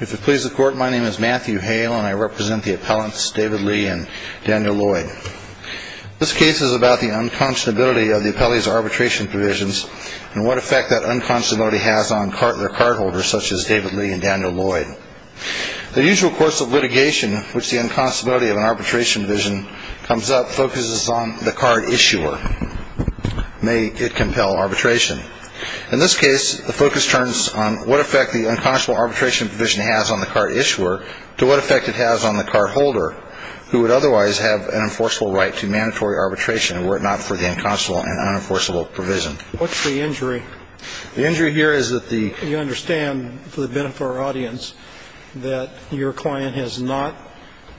If it pleases the Court, my name is Matthew Hale, and I represent the appellants David Lee and Daniel Lloyd. This case is about the unconscionability of the appellee's arbitration provisions and what effect that unconscionability has on their cardholders, such as David Lee and Daniel Lloyd. The usual course of litigation in which the unconscionability of an arbitration provision comes up focuses on the card issuer. May it compel arbitration. In this case, the focus turns on what effect the unconscionable arbitration provision has on the card issuer to what effect it has on the cardholder, who would otherwise have an enforceable right to mandatory arbitration were it not for the unconscionable and unenforceable provision. What's the injury? The injury here is that the... You understand, for the benefit of our audience, that your client has not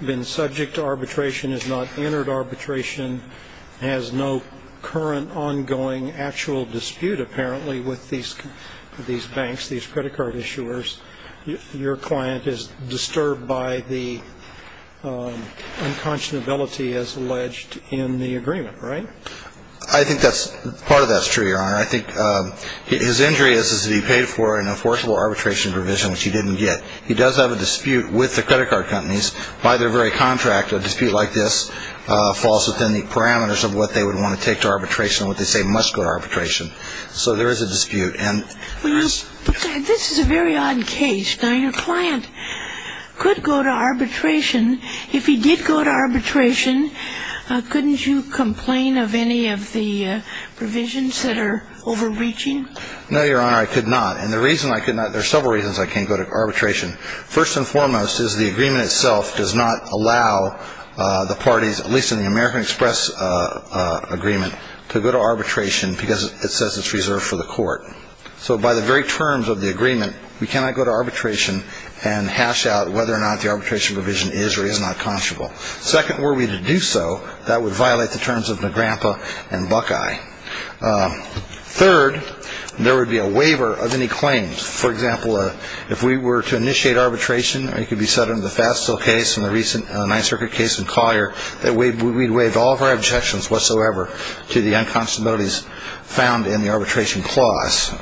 been subject to arbitration, has not entered arbitration, has no current ongoing actual dispute apparently with these banks, these credit card issuers. Your client is disturbed by the unconscionability as alleged in the agreement, right? I think that's... part of that's true, Your Honor. I think his injury is that he paid for an enforceable arbitration provision, which he didn't get. He does have a dispute with the credit card companies by their very contract, but a dispute like this falls within the parameters of what they would want to take to arbitration, what they say must go to arbitration. So there is a dispute, and... This is a very odd case. Now, your client could go to arbitration. If he did go to arbitration, couldn't you complain of any of the provisions that are overreaching? No, Your Honor, I could not. And the reason I could not, there are several reasons I can't go to arbitration. First and foremost is the agreement itself does not allow the parties, at least in the American Express agreement, to go to arbitration because it says it's reserved for the court. So by the very terms of the agreement, we cannot go to arbitration and hash out whether or not the arbitration provision is or is not conscionable. Second, were we to do so, that would violate the terms of Nagrampa and Buckeye. Third, there would be a waiver of any claims. For example, if we were to initiate arbitration, it could be set under the Fassell case and the recent Ninth Circuit case in Collier, that we'd waive all of our objections whatsoever to the unconscionabilities found in the arbitration clause.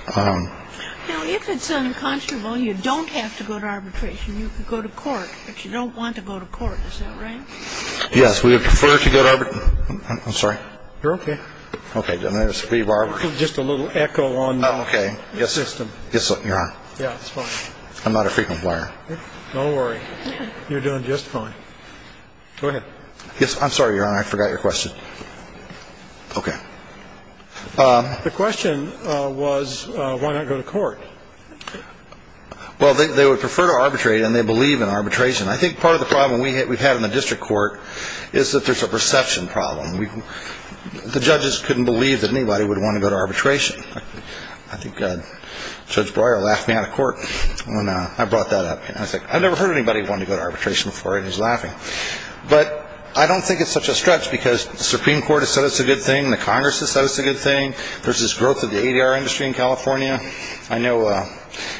Now, if it's unconscionable, you don't have to go to arbitration. You could go to court, but you don't want to go to court. Is that right? Yes, we would prefer to go to arbitration. I'm sorry? You're okay. Okay. Just a little echo on the system. Yes, Your Honor. Yeah, it's fine. I'm not a frequent player. Don't worry. You're doing just fine. Go ahead. Yes, I'm sorry, Your Honor. I forgot your question. Okay. The question was why not go to court. Well, they would prefer to arbitrate, and they believe in arbitration. I think part of the problem we've had in the district court is that there's a perception problem. The judges couldn't believe that anybody would want to go to arbitration. I think Judge Breuer laughed me out of court when I brought that up. I was like, I've never heard anybody want to go to arbitration before, and he was laughing. But I don't think it's such a stretch because the Supreme Court has said it's a good thing. The Congress has said it's a good thing. There's this growth of the ADR industry in California. I know it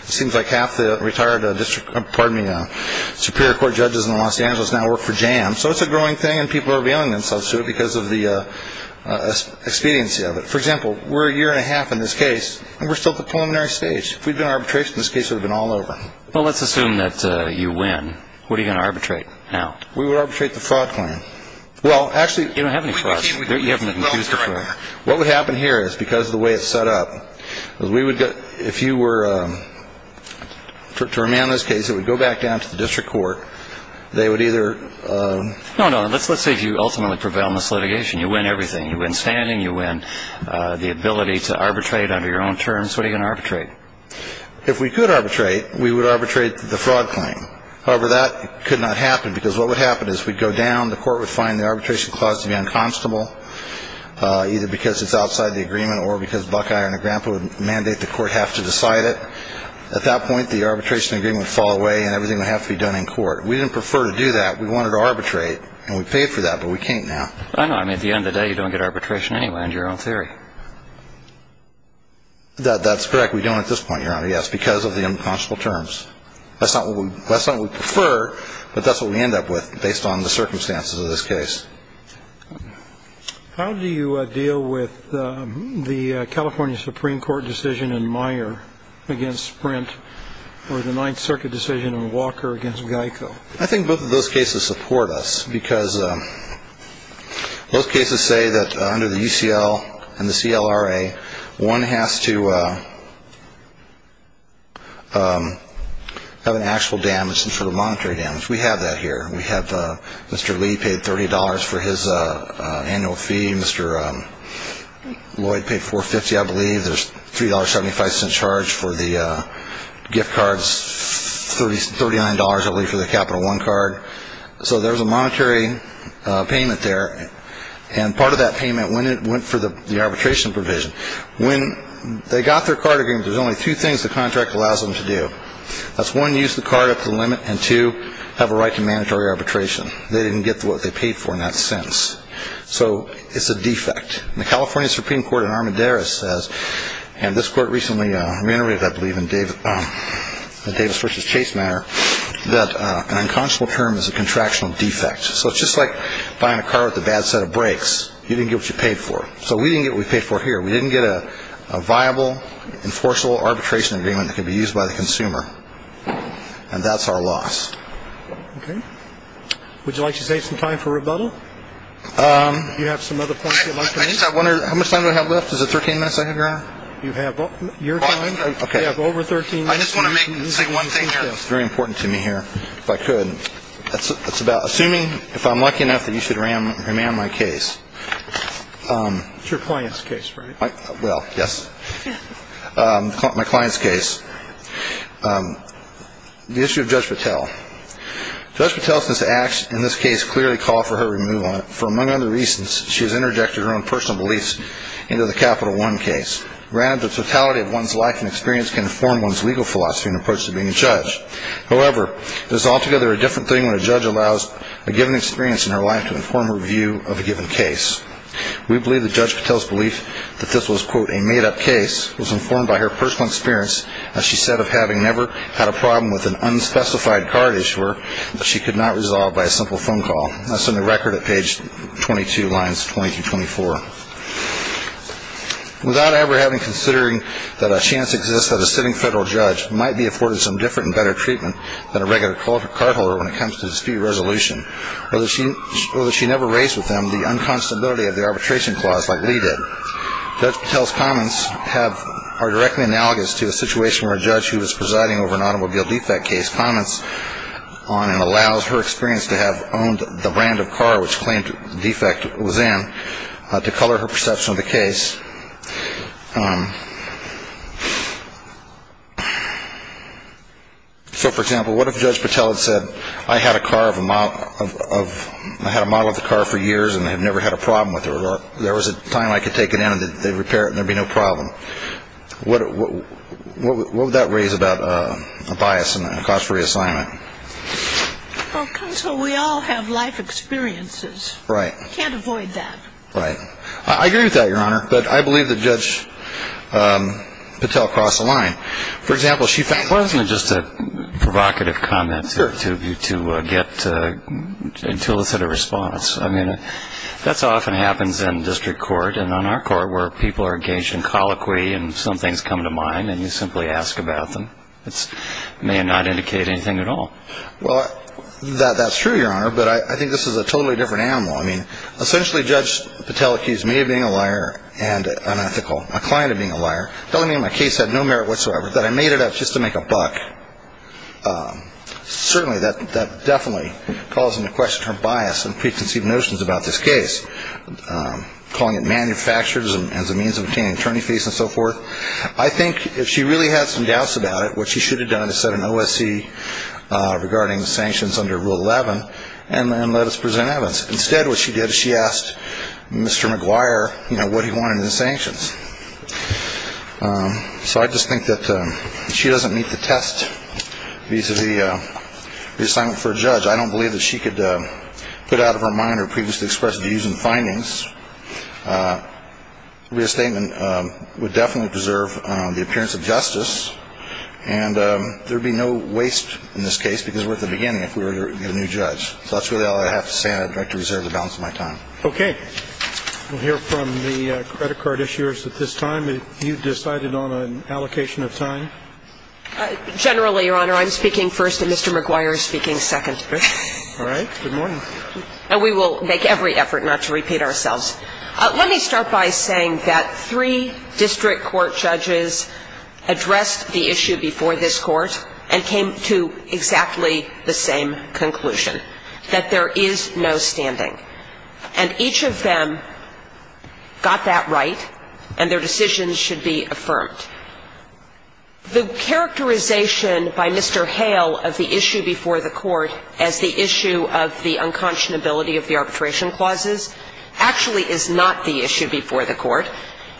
seems like half the retired district – pardon me – Superior Court judges in Los Angeles now work for JAM. So it's a growing thing, and people are revealing themselves to it because of the expediency of it. For example, we're a year and a half in this case, and we're still at the preliminary stage. If we'd done arbitration, this case would have been all over. Well, let's assume that you win. What are you going to arbitrate now? We would arbitrate the fraud claim. Well, actually – You don't have any frauds. You haven't accused a fraud. What would happen here is because of the way it's set up, if you were to remand this case, it would go back down to the district court. They would either – No, no. Let's say if you ultimately prevail in this litigation, you win everything. You win standing. You win the ability to arbitrate under your own terms. What are you going to arbitrate? If we could arbitrate, we would arbitrate the fraud claim. However, that could not happen because what would happen is we'd go down. The court would find the arbitration clause to be unconstitutable, either because it's outside the agreement or because Buckeye or Negrempo would mandate the court have to decide it. At that point, the arbitration agreement would fall away, and everything would have to be done in court. We didn't prefer to do that. We wanted to arbitrate, and we paid for that, but we can't now. I know. I mean, at the end of the day, you don't get arbitration anyway under your own theory. That's correct. We don't at this point, Your Honor, yes, because of the unconscionable terms. That's not what we prefer, but that's what we end up with based on the circumstances of this case. How do you deal with the California Supreme Court decision in Meyer against Sprint or the Ninth Circuit decision in Walker against Geico? I think both of those cases support us because both cases say that under the UCL and the CLRA, one has to have an actual damage, some sort of monetary damage. We have that here. We have Mr. Lee paid $30 for his annual fee. Mr. Lloyd paid $4.50, I believe. There's $3.75 charge for the gift cards, $39, I believe, for the Capital One card. So there's a monetary payment there, and part of that payment went for the arbitration provision. When they got their card agreement, there's only two things the contract allows them to do. That's one, use the card up to the limit, and two, have a right to mandatory arbitration. They didn't get what they paid for in that sentence, so it's a defect. And the California Supreme Court in Armendariz says, and this court recently reiterated, I believe, in Davis v. Chase matter, that an unconscionable term is a contractual defect. So it's just like buying a car with a bad set of brakes. You didn't get what you paid for. So we didn't get what we paid for here. We didn't get a viable, enforceable arbitration agreement that could be used by the consumer. And that's our loss. Okay. Would you like to save some time for rebuttal? Do you have some other points you'd like to make? How much time do I have left? Is it 13 minutes I have here? You have your time. Okay. You have over 13 minutes. I just want to say one thing here. It's very important to me here, if I could. It's about assuming, if I'm lucky enough, that you should remand my case. It's your client's case, right? Well, yes. My client's case. The issue of Judge Patel. Judge Patel's acts in this case clearly call for her removal. For among other reasons, she has interjected her own personal beliefs into the Capital One case. Granted, the totality of one's life and experience can inform one's legal philosophy and approach to being a judge. However, it is altogether a different thing when a judge allows a given experience in her life to inform her view of a given case. We believe that Judge Patel's belief that this was, quote, a made-up case, was informed by her personal experience, as she said, of having never had a problem with an unspecified card issuer that she could not resolve by a simple phone call. That's in the record at page 22, lines 20 through 24. Without ever having considering that a chance exists that a sitting federal judge might be afforded some different and better treatment than a regular cardholder when it comes to dispute resolution, or that she never raised with them the unconscionability of the arbitration clause like Lee did, Judge Patel's comments are directly analogous to a situation where a judge who was presiding over an automobile defect case comments on and allows her experience to have owned the brand of car which claimed defect was in to color her perception of the case. So, for example, what if Judge Patel had said, I had a model of the car for years and I've never had a problem with it, or there was a time I could take it in and they'd repair it and there'd be no problem. What would that raise about a bias and a cost for reassignment? Well, counsel, we all have life experiences. Right. We can't avoid that. Right. I agree with that, Your Honor, but I believe that Judge Patel crossed the line. For example, she found Well, isn't it just a provocative comment to get an illicit response? I mean, that often happens in district court and on our court where people are engaged in colloquy and some things come to mind and you simply ask about them. It may not indicate anything at all. Well, that's true, Your Honor, but I think this is a totally different animal. I mean, essentially, Judge Patel accused me of being a liar and unethical, my client of being a liar, telling me my case had no merit whatsoever, that I made it up just to make a buck. Certainly that definitely calls into question her bias and preconceived notions about this case, calling it manufactured as a means of obtaining attorney fees and so forth. I think if she really had some doubts about it, what she should have done is set an OSC regarding sanctions under Rule 11 and let us present evidence. Instead, what she did is she asked Mr. McGuire what he wanted in the sanctions. So I just think that if she doesn't meet the test vis-à-vis reassignment for a judge, I don't believe that she could put out of her mind or previously expressed views and findings. Reassignment would definitely preserve the appearance of justice, and there would be no waste in this case because we're at the beginning if we were to get a new judge. So that's really all I have to say, and I'd like to reserve the balance of my time. Okay. We'll hear from the credit card issuers at this time. If you've decided on an allocation of time. Generally, Your Honor, I'm speaking first and Mr. McGuire is speaking second. All right. Good morning. And we will make every effort not to repeat ourselves. Let me start by saying that three district court judges addressed the issue before this court and came to exactly the same conclusion, that there is no standing. And each of them got that right, and their decisions should be affirmed. The characterization by Mr. Hale of the issue before the court as the issue of the unconscionability of the arbitration clauses actually is not the issue before the court,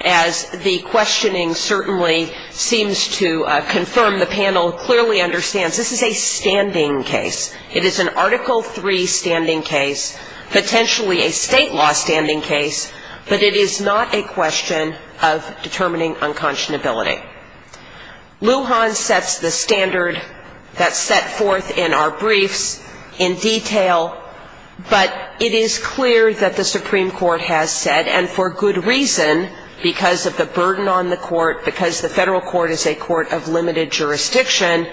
as the questioning certainly seems to confirm the panel clearly understands this is a standing case. It is an Article III standing case, potentially a state law standing case, but it is not a question of determining unconscionability. Lujan sets the standard that's set forth in our briefs in detail, but it is clear that the Supreme Court has said, and for good reason, because of the burden on the court, because the federal court is a court of limited jurisdiction,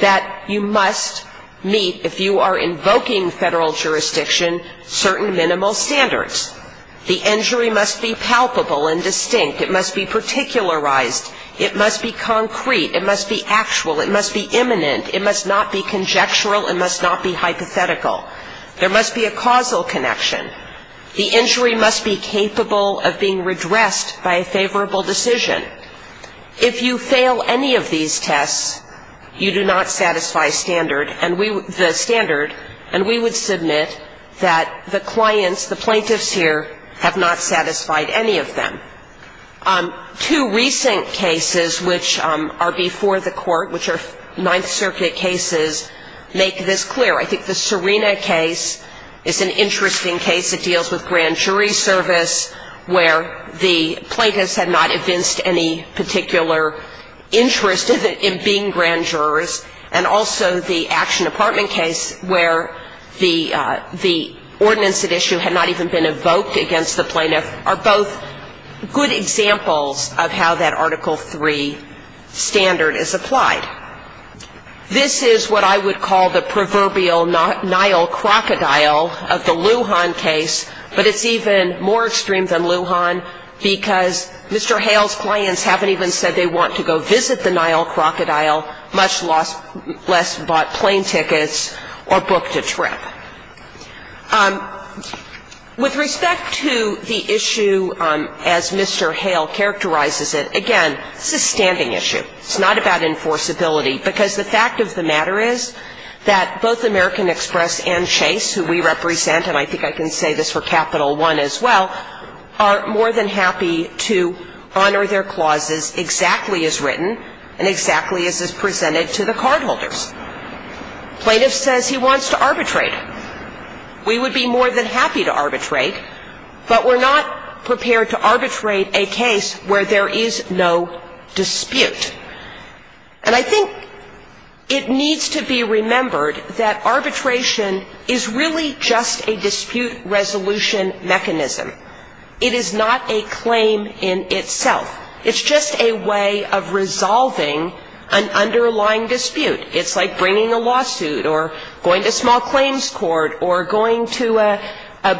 that you must meet, if you are invoking federal jurisdiction, certain minimal standards. The injury must be palpable and distinct. It must be particularized. It must be concrete. It must be actual. It must be imminent. It must not be conjectural. It must not be hypothetical. There must be a causal connection. The injury must be capable of being redressed by a favorable decision. If you fail any of these tests, you do not satisfy the standard, and we would submit that the clients, the plaintiffs here, have not satisfied any of them. Two recent cases which are before the court, which are Ninth Circuit cases, make this clear. I think the Serena case is an interesting case. It deals with grand jury service, where the plaintiffs had not evinced any particular interest in being grand jurors, and also the Action Department case, where the ordinance at issue had not even been evoked against the plaintiff, are both good examples of how that Article III standard is applied. This is what I would call the proverbial Nile crocodile of the Lujan case, but it's even more extreme than Lujan because Mr. Hale's clients haven't even said they want to go visit the Nile crocodile, much less bought plane tickets or booked a trip. With respect to the issue as Mr. Hale characterizes it, again, it's a standing issue. It's not about enforceability, because the fact of the matter is that both American Express and Chase, who we represent, and I think I can say this for Capital One as well, are more than happy to honor their clauses exactly as written and exactly as is presented to the cardholders. Plaintiff says he wants to arbitrate. We would be more than happy to arbitrate, but we're not prepared to arbitrate a case where there is no dispute. And I think it needs to be remembered that arbitration is really just a dispute resolution mechanism. It is not a claim in itself. It's just a way of resolving an underlying dispute. It's like bringing a lawsuit or going to small claims court or going to a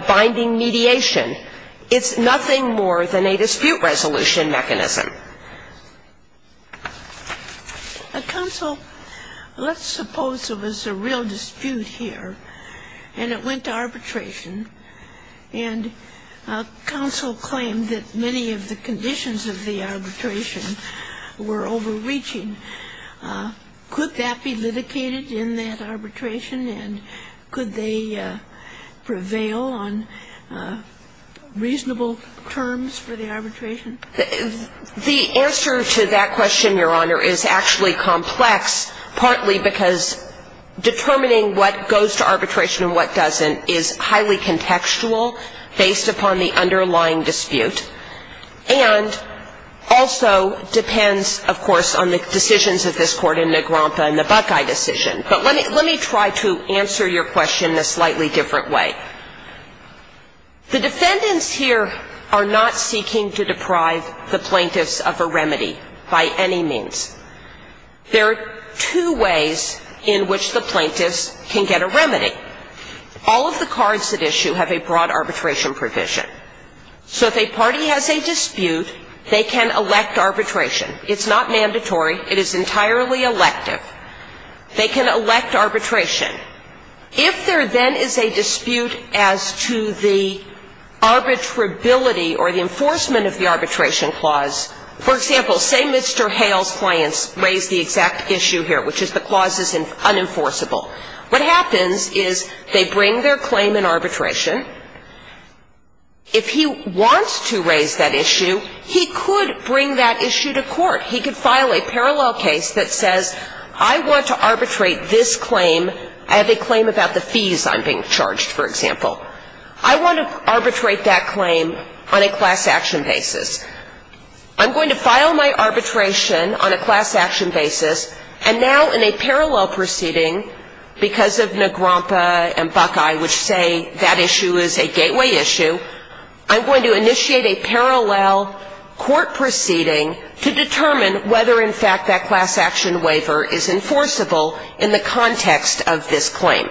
binding mediation. It's nothing more than a dispute resolution mechanism. Counsel, let's suppose there was a real dispute here and it went to arbitration and counsel claimed that many of the conditions of the arbitration were overreaching. Could that be litigated in that arbitration? And could they prevail on reasonable terms for the arbitration? The answer to that question, Your Honor, is actually complex, partly because determining what goes to arbitration and what doesn't is highly contextual based upon the underlying dispute and also depends, of course, on the decisions of this Court in Negrompa and the Buckeye decision. But let me try to answer your question in a slightly different way. The defendants here are not seeking to deprive the plaintiffs of a remedy by any means. There are two ways in which the plaintiffs can get a remedy. All of the cards at issue have a broad arbitration provision. So if a party has a dispute, they can elect arbitration. It's not mandatory. It is entirely elective. They can elect arbitration. If there then is a dispute as to the arbitrability or the enforcement of the arbitration clause, for example, say Mr. Hale's clients raise the exact issue here, which is the clause is unenforceable, what happens is they bring their claim in arbitration and if he wants to raise that issue, he could bring that issue to court. He could file a parallel case that says I want to arbitrate this claim. I have a claim about the fees I'm being charged, for example. I want to arbitrate that claim on a class action basis. I'm going to file my arbitration on a class action basis, and now in a parallel proceeding, because of Negrompa and Buckeye which say that issue is a gateway issue, I'm going to initiate a parallel court proceeding to determine whether in fact that class action waiver is enforceable in the context of this claim.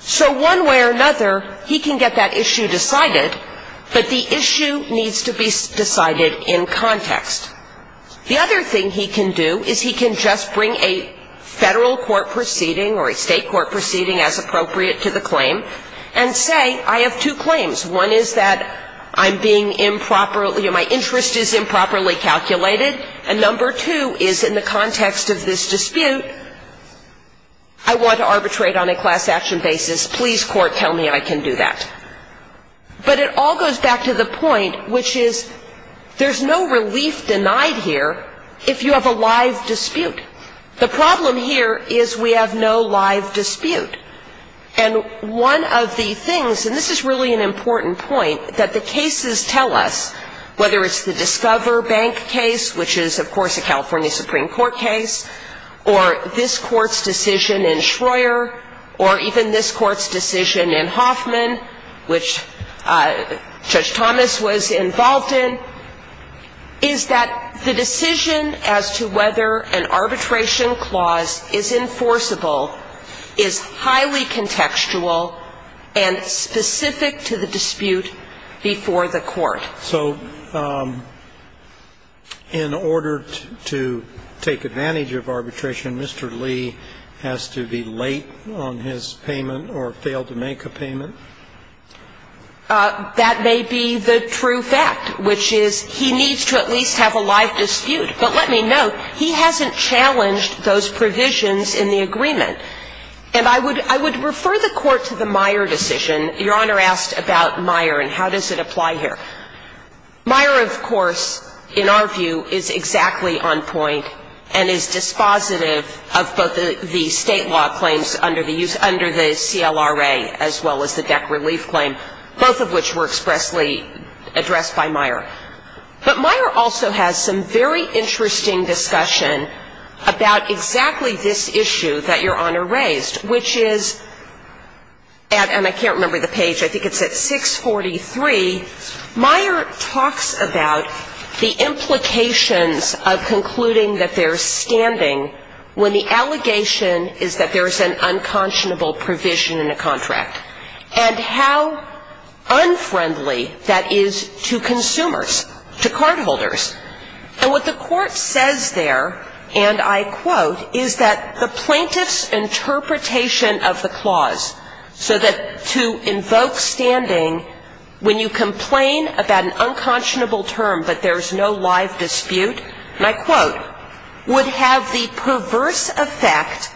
So one way or another, he can get that issue decided, but the issue needs to be decided in context. The other thing he can do is he can just bring a Federal court proceeding or a State court proceeding as appropriate to the claim and say I have two claims. One is that I'm being improperly or my interest is improperly calculated, and number two is in the context of this dispute, I want to arbitrate on a class action basis. Please, court, tell me I can do that. But it all goes back to the point which is there's no relief denied here if you have a live dispute. The problem here is we have no live dispute. And one of the things, and this is really an important point, that the cases tell us, whether it's the Discover Bank case, which is, of course, a California Supreme Court case, or this court's decision in Schroer, or even this court's decision in Hoffman, which Judge Thomas was involved in, is that the decision as to whether an arbitration clause is enforceable is highly contextual and specific to the dispute before the court. So in order to take advantage of arbitration, Mr. Lee has to be late on his payment or fail to make a payment? That may be the true fact, which is he needs to at least have a live dispute. But let me note, he hasn't challenged those provisions in the agreement. And I would refer the Court to the Meyer decision. Your Honor asked about Meyer and how does it apply here. Meyer, of course, in our view, is exactly on point and is dispositive of both the state law claims under the CLRA as well as the DEC relief claim, both of which were expressly addressed by Meyer. But Meyer also has some very interesting discussion about exactly this issue that Your Honor raised, which is, and I can't remember the page, I think it's at 643, Meyer talks about the implications of concluding that there's standing when the allegation is that there's an unconscionable provision in a contract, and how unfriendly that is to consumers, to cardholders. And what the Court says there, and I quote, is that the plaintiff's interpretation of the clause, so that to invoke standing when you complain about an unconscionable term but there's no live dispute, and I quote, would have the perverse effect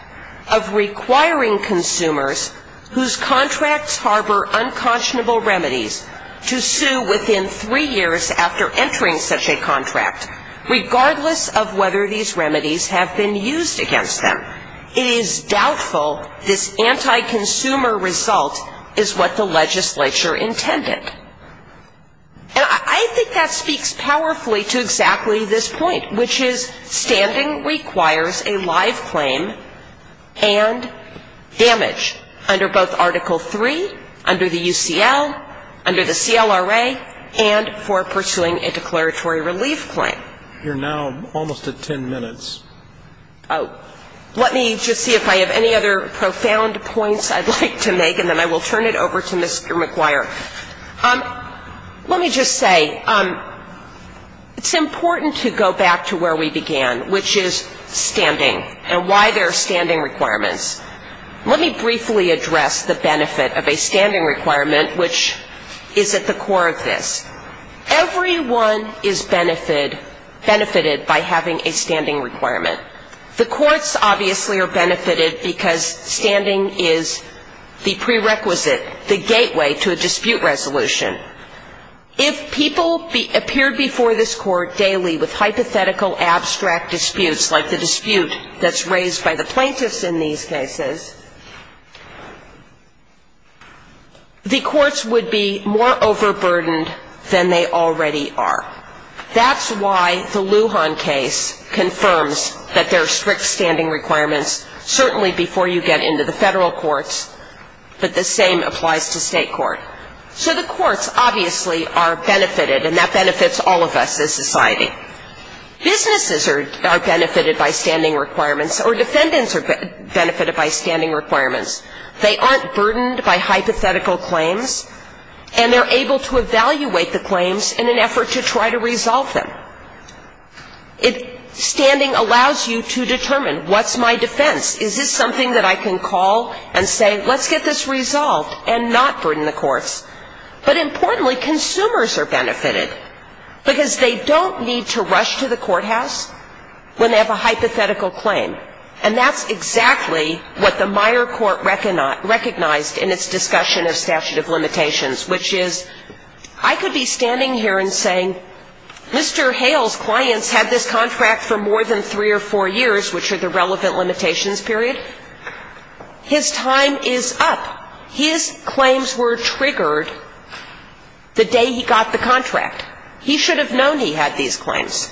of requiring consumers whose contracts harbor unconscionable remedies to sue within three years after entering such a contract, regardless of whether these remedies have been used against them. It is doubtful this anti-consumer result is what the legislature intended. And I think that speaks powerfully to exactly this point, which is standing requires a live claim and damage under both Article III, under the UCL, under the CLRA, and for pursuing a declaratory relief claim. You're now almost at ten minutes. Oh. Let me just see if I have any other profound points I'd like to make, and then I will turn it over to Mr. McGuire. Let me just say, it's important to go back to where we began, which is standing and why there are standing requirements. Let me briefly address the benefit of a standing requirement, which is at the core of this. Everyone is benefited by having a standing requirement. The courts, obviously, are benefited because standing is the prerequisite, the gateway to a dispute resolution. If people appeared before this court daily with hypothetical, abstract disputes like the dispute that's raised by the plaintiffs in these cases, the courts would be more overburdened than they already are. That's why the Lujan case confirms that there are strict standing requirements, certainly before you get into the federal courts, but the same applies to state court. So the courts, obviously, are benefited, and that benefits all of us as society. Businesses are benefited by standing requirements, or defendants are benefited by standing requirements. They aren't burdened by hypothetical claims, and they're able to evaluate the claims and try to resolve them. Standing allows you to determine, what's my defense? Is this something that I can call and say, let's get this resolved and not burden the courts? But importantly, consumers are benefited, because they don't need to rush to the courthouse when they have a hypothetical claim. And that's exactly what the Meyer Court recognized in its discussion of statute of limitations. Mr. Hale's clients had this contract for more than three or four years, which are the relevant limitations period. His time is up. His claims were triggered the day he got the contract. He should have known he had these claims.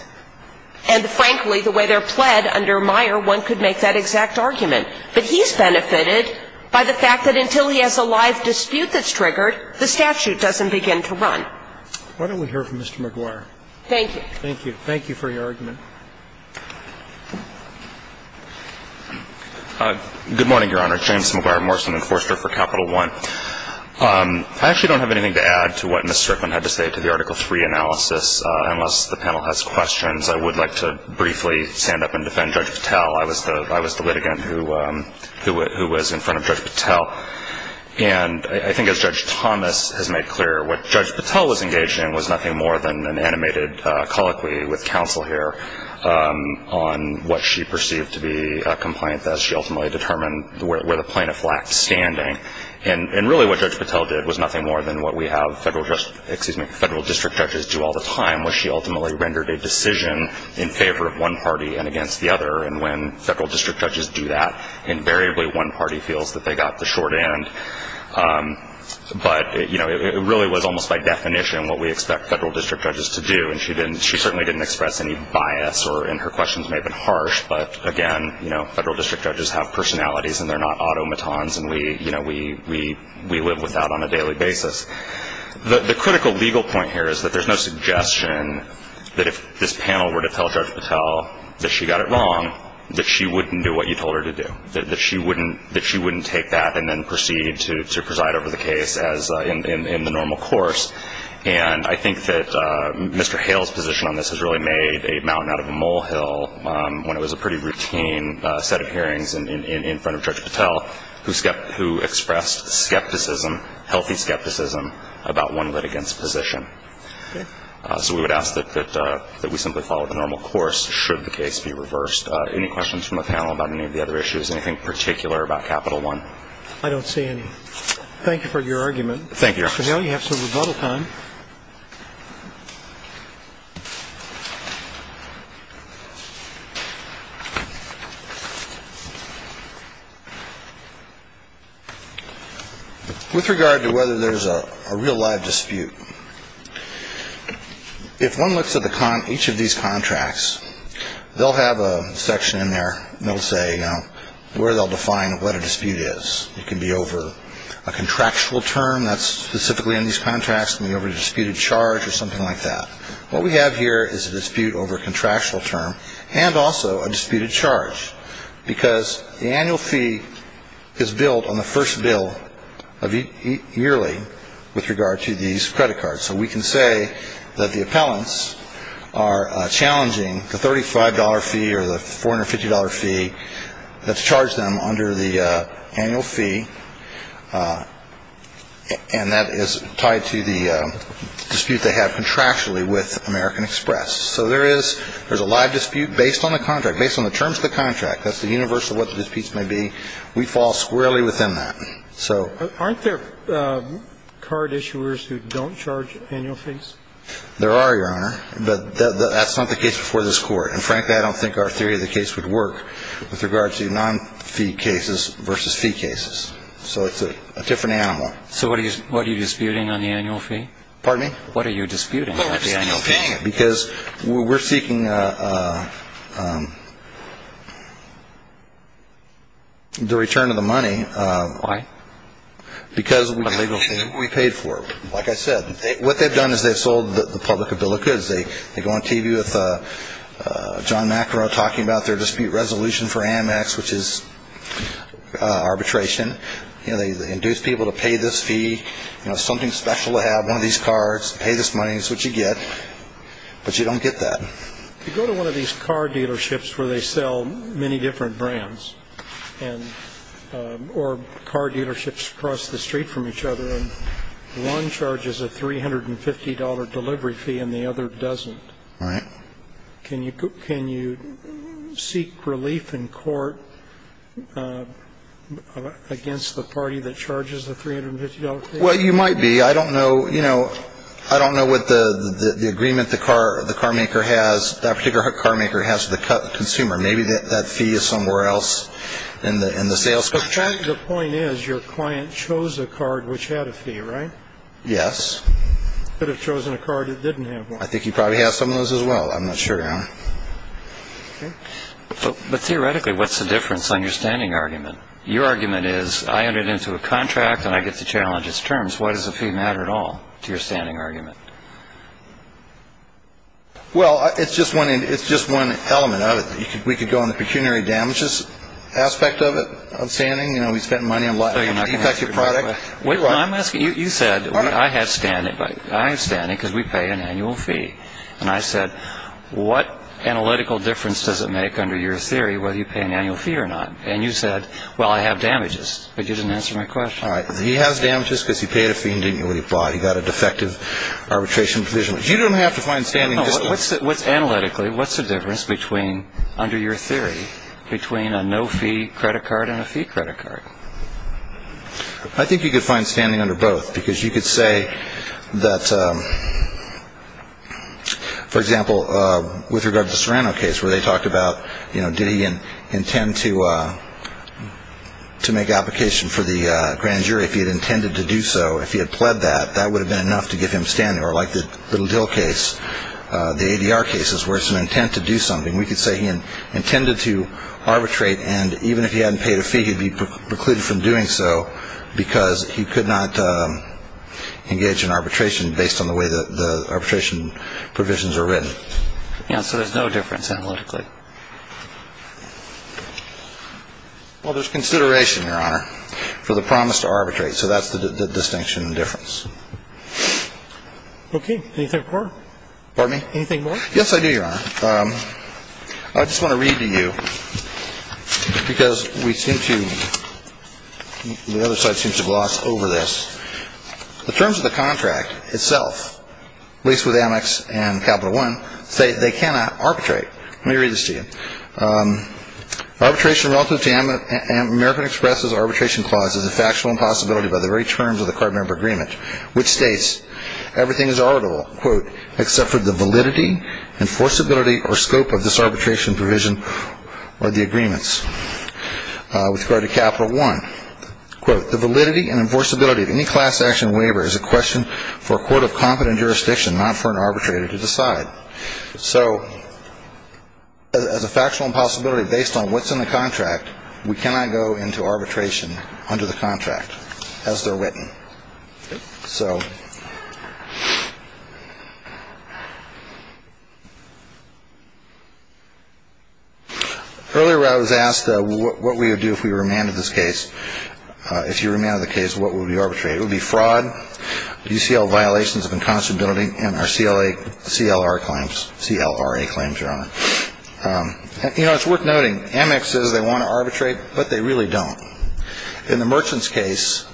And, frankly, the way they're pled under Meyer, one could make that exact argument. But he's benefited by the fact that until he has a live dispute that's triggered, the statute doesn't begin to run. Why don't we hear from Mr. McGuire? Thank you. Thank you. Thank you for your argument. Good morning, Your Honor. James McGuire, Morrison Enforcer for Capital One. I actually don't have anything to add to what Ms. Strickland had to say to the Article 3 analysis, unless the panel has questions. I would like to briefly stand up and defend Judge Patel. I was the litigant who was in front of Judge Patel. And I think as Judge Thomas has made clear, what Judge Patel was engaged in was nothing more than an animated colloquy with counsel here on what she perceived to be a complaint that she ultimately determined where the plaintiff lacked standing. And really what Judge Patel did was nothing more than what we have federal district judges do all the time, where she ultimately rendered a decision in favor of one party and against the other. And when federal district judges do that, invariably one party feels that they got the short end. But, you know, it really was almost by definition what we expect federal district judges to do. And she certainly didn't express any bias, and her questions may have been harsh. But, again, you know, federal district judges have personalities and they're not automatons and we live with that on a daily basis. The critical legal point here is that there's no suggestion that if this panel were to tell Judge Patel that she got it wrong, that she wouldn't do what you told her to do, that she wouldn't take that and then proceed to preside over the case in the normal course. And I think that Mr. Hale's position on this has really made a mountain out of a molehill when it was a pretty routine set of hearings in front of Judge Patel, who expressed skepticism, healthy skepticism about one litigant's position. So we would ask that we simply follow the normal course should the case be reversed. Any questions from the panel about any of the other issues? Anything particular about Capital One? I don't see any. Thank you for your argument. Thank you, Your Honor. Mr. Hale, you have some rebuttal time. With regard to whether there's a real live dispute, if one looks at each of these contracts, they'll have a section in there that will say where they'll define what a dispute is. It can be over a contractual term that's specifically in these contracts. It can be over a disputed charge or something like that. What we have here is a dispute over a contractual term and also a disputed charge, because the annual fee is billed on the first bill yearly with regard to these credit cards. So we can say that the appellants are challenging the $35 fee or the $450 fee. Let's charge them under the annual fee, and that is tied to the dispute they have contractually with American Express. So there is a live dispute based on the contract, based on the terms of the contract. That's the universe of what the disputes may be. We fall squarely within that. Aren't there card issuers who don't charge annual fees? There are, Your Honor, but that's not the case before this Court. And frankly, I don't think our theory of the case would work with regard to non-fee cases versus fee cases. So it's a different animal. So what are you disputing on the annual fee? Pardon me? What are you disputing on the annual fee? Because we're seeking the return of the money. Why? Because we paid for it. Like I said, what they've done is they've sold the public a bill of goods. They go on TV with John Macro talking about their dispute resolution for Amex, which is arbitration. You know, they induce people to pay this fee. You know, something special to have, one of these cards, pay this money, that's what you get. But you don't get that. If you go to one of these car dealerships where they sell many different brands or car dealerships across the street from each other and one charges a $350 delivery fee and the other doesn't, can you seek relief in court against the party that charges the $350 fee? Well, you might be. I don't know, you know, I don't know what the agreement the carmaker has, that particular carmaker has with the consumer. Maybe that fee is somewhere else in the sales. The point is your client chose a card which had a fee, right? Yes. Could have chosen a card that didn't have one. I think he probably has some of those as well. I'm not sure. But theoretically, what's the difference on your standing argument? Your argument is I entered into a contract and I get to challenge its terms. Why does the fee matter at all to your standing argument? Well, it's just one element of it. We could go on the pecuniary damages aspect of it, of standing. You know, we spend money on life-affecting products. Wait, I'm asking, you said I have standing because we pay an annual fee. And I said, what analytical difference does it make under your theory whether you pay an annual fee or not? And you said, well, I have damages. But you didn't answer my question. All right. He has damages because he paid a fee and didn't know what he bought. He got a defective arbitration provision. You don't have to find standing. Analytically, what's the difference under your theory between a no-fee credit card and a fee credit card? I think you could find standing under both because you could say that, for example, with regard to the Serrano case where they talked about, you know, did he intend to make application for the grand jury if he had intended to do so. If he had pled that, that would have been enough to get him standing. Or like the little deal case, the ADR cases, where it's an intent to do something. We could say he intended to arbitrate, and even if he hadn't paid a fee, he'd be precluded from doing so because he could not engage in arbitration based on the way that the arbitration provisions are written. So there's no difference analytically. Well, there's consideration, Your Honor, for the promise to arbitrate. So that's the distinction difference. Okay. Anything more? Anything more? Yes, I do, Your Honor. I just want to read to you because we seem to – the other side seems to gloss over this. The terms of the contract itself, at least with Amex and Capital One, say they cannot arbitrate. Let me read this to you. Arbitration relative to American Express's arbitration clause is a factual impossibility by the very terms of the card member agreement, which states everything is arbitrable, quote, except for the validity, enforceability, or scope of this arbitration provision or the agreements. With regard to Capital One, quote, the validity and enforceability of any class action waiver is a question for a court of competent jurisdiction, not for an arbitrator to decide. So as a factual impossibility based on what's in the contract, we cannot go into arbitration under the contract as they're written. So earlier I was asked what we would do if we remanded this case. If you remanded the case, what would we arbitrate? It would be fraud, UCL violations of inconstability, and our CLRA claims are on it. You know, it's worth noting, Amex says they want to arbitrate, but they really don't. In the Merchant's case,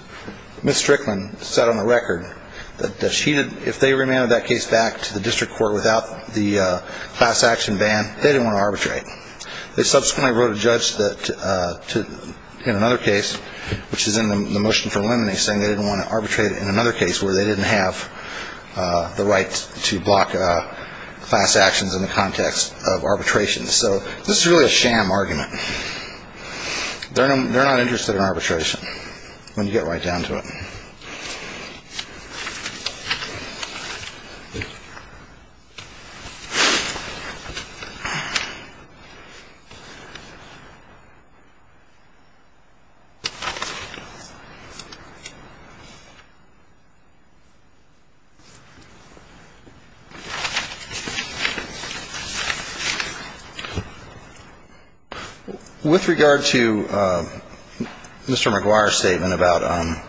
Ms. Strickland said on the record that if they remanded that case back to the district court without the class action ban, they didn't want to arbitrate. They subsequently wrote a judge in another case, which is in the motion for eliminating, saying they didn't want to arbitrate in another case where they didn't have the right to block class actions in the context of arbitration. So this is really a sham argument. They're not interested in arbitration when you get right down to it. With regard to Mr. McGuire's statement about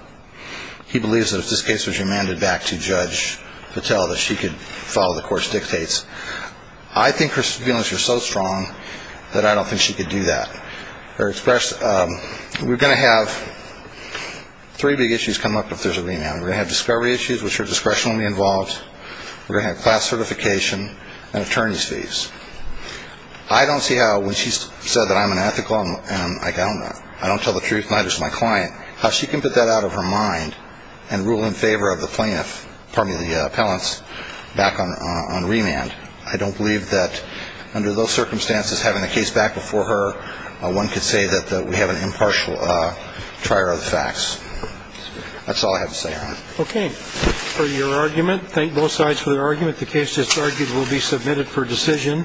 he believes that if this case was remanded back to Judge Patel that she could follow the court's dictates, I think her feelings are so strong that I don't think she could do that. We're going to have three big issues come up if there's a remand. We're going to have discovery issues, which are discretionally involved. We're going to have class certification and attorney's fees. I don't see how when she said that I'm unethical and I don't tell the truth, neither does my client, how she can put that out of her mind and rule in favor of the plaintiff, pardon me, the appellants back on remand. I don't believe that under those circumstances, having a case back before her, one could say that we have an impartial trier of the facts. That's all I have to say on it. Okay. For your argument, thank both sides for their argument. The case that's argued will be submitted for decision.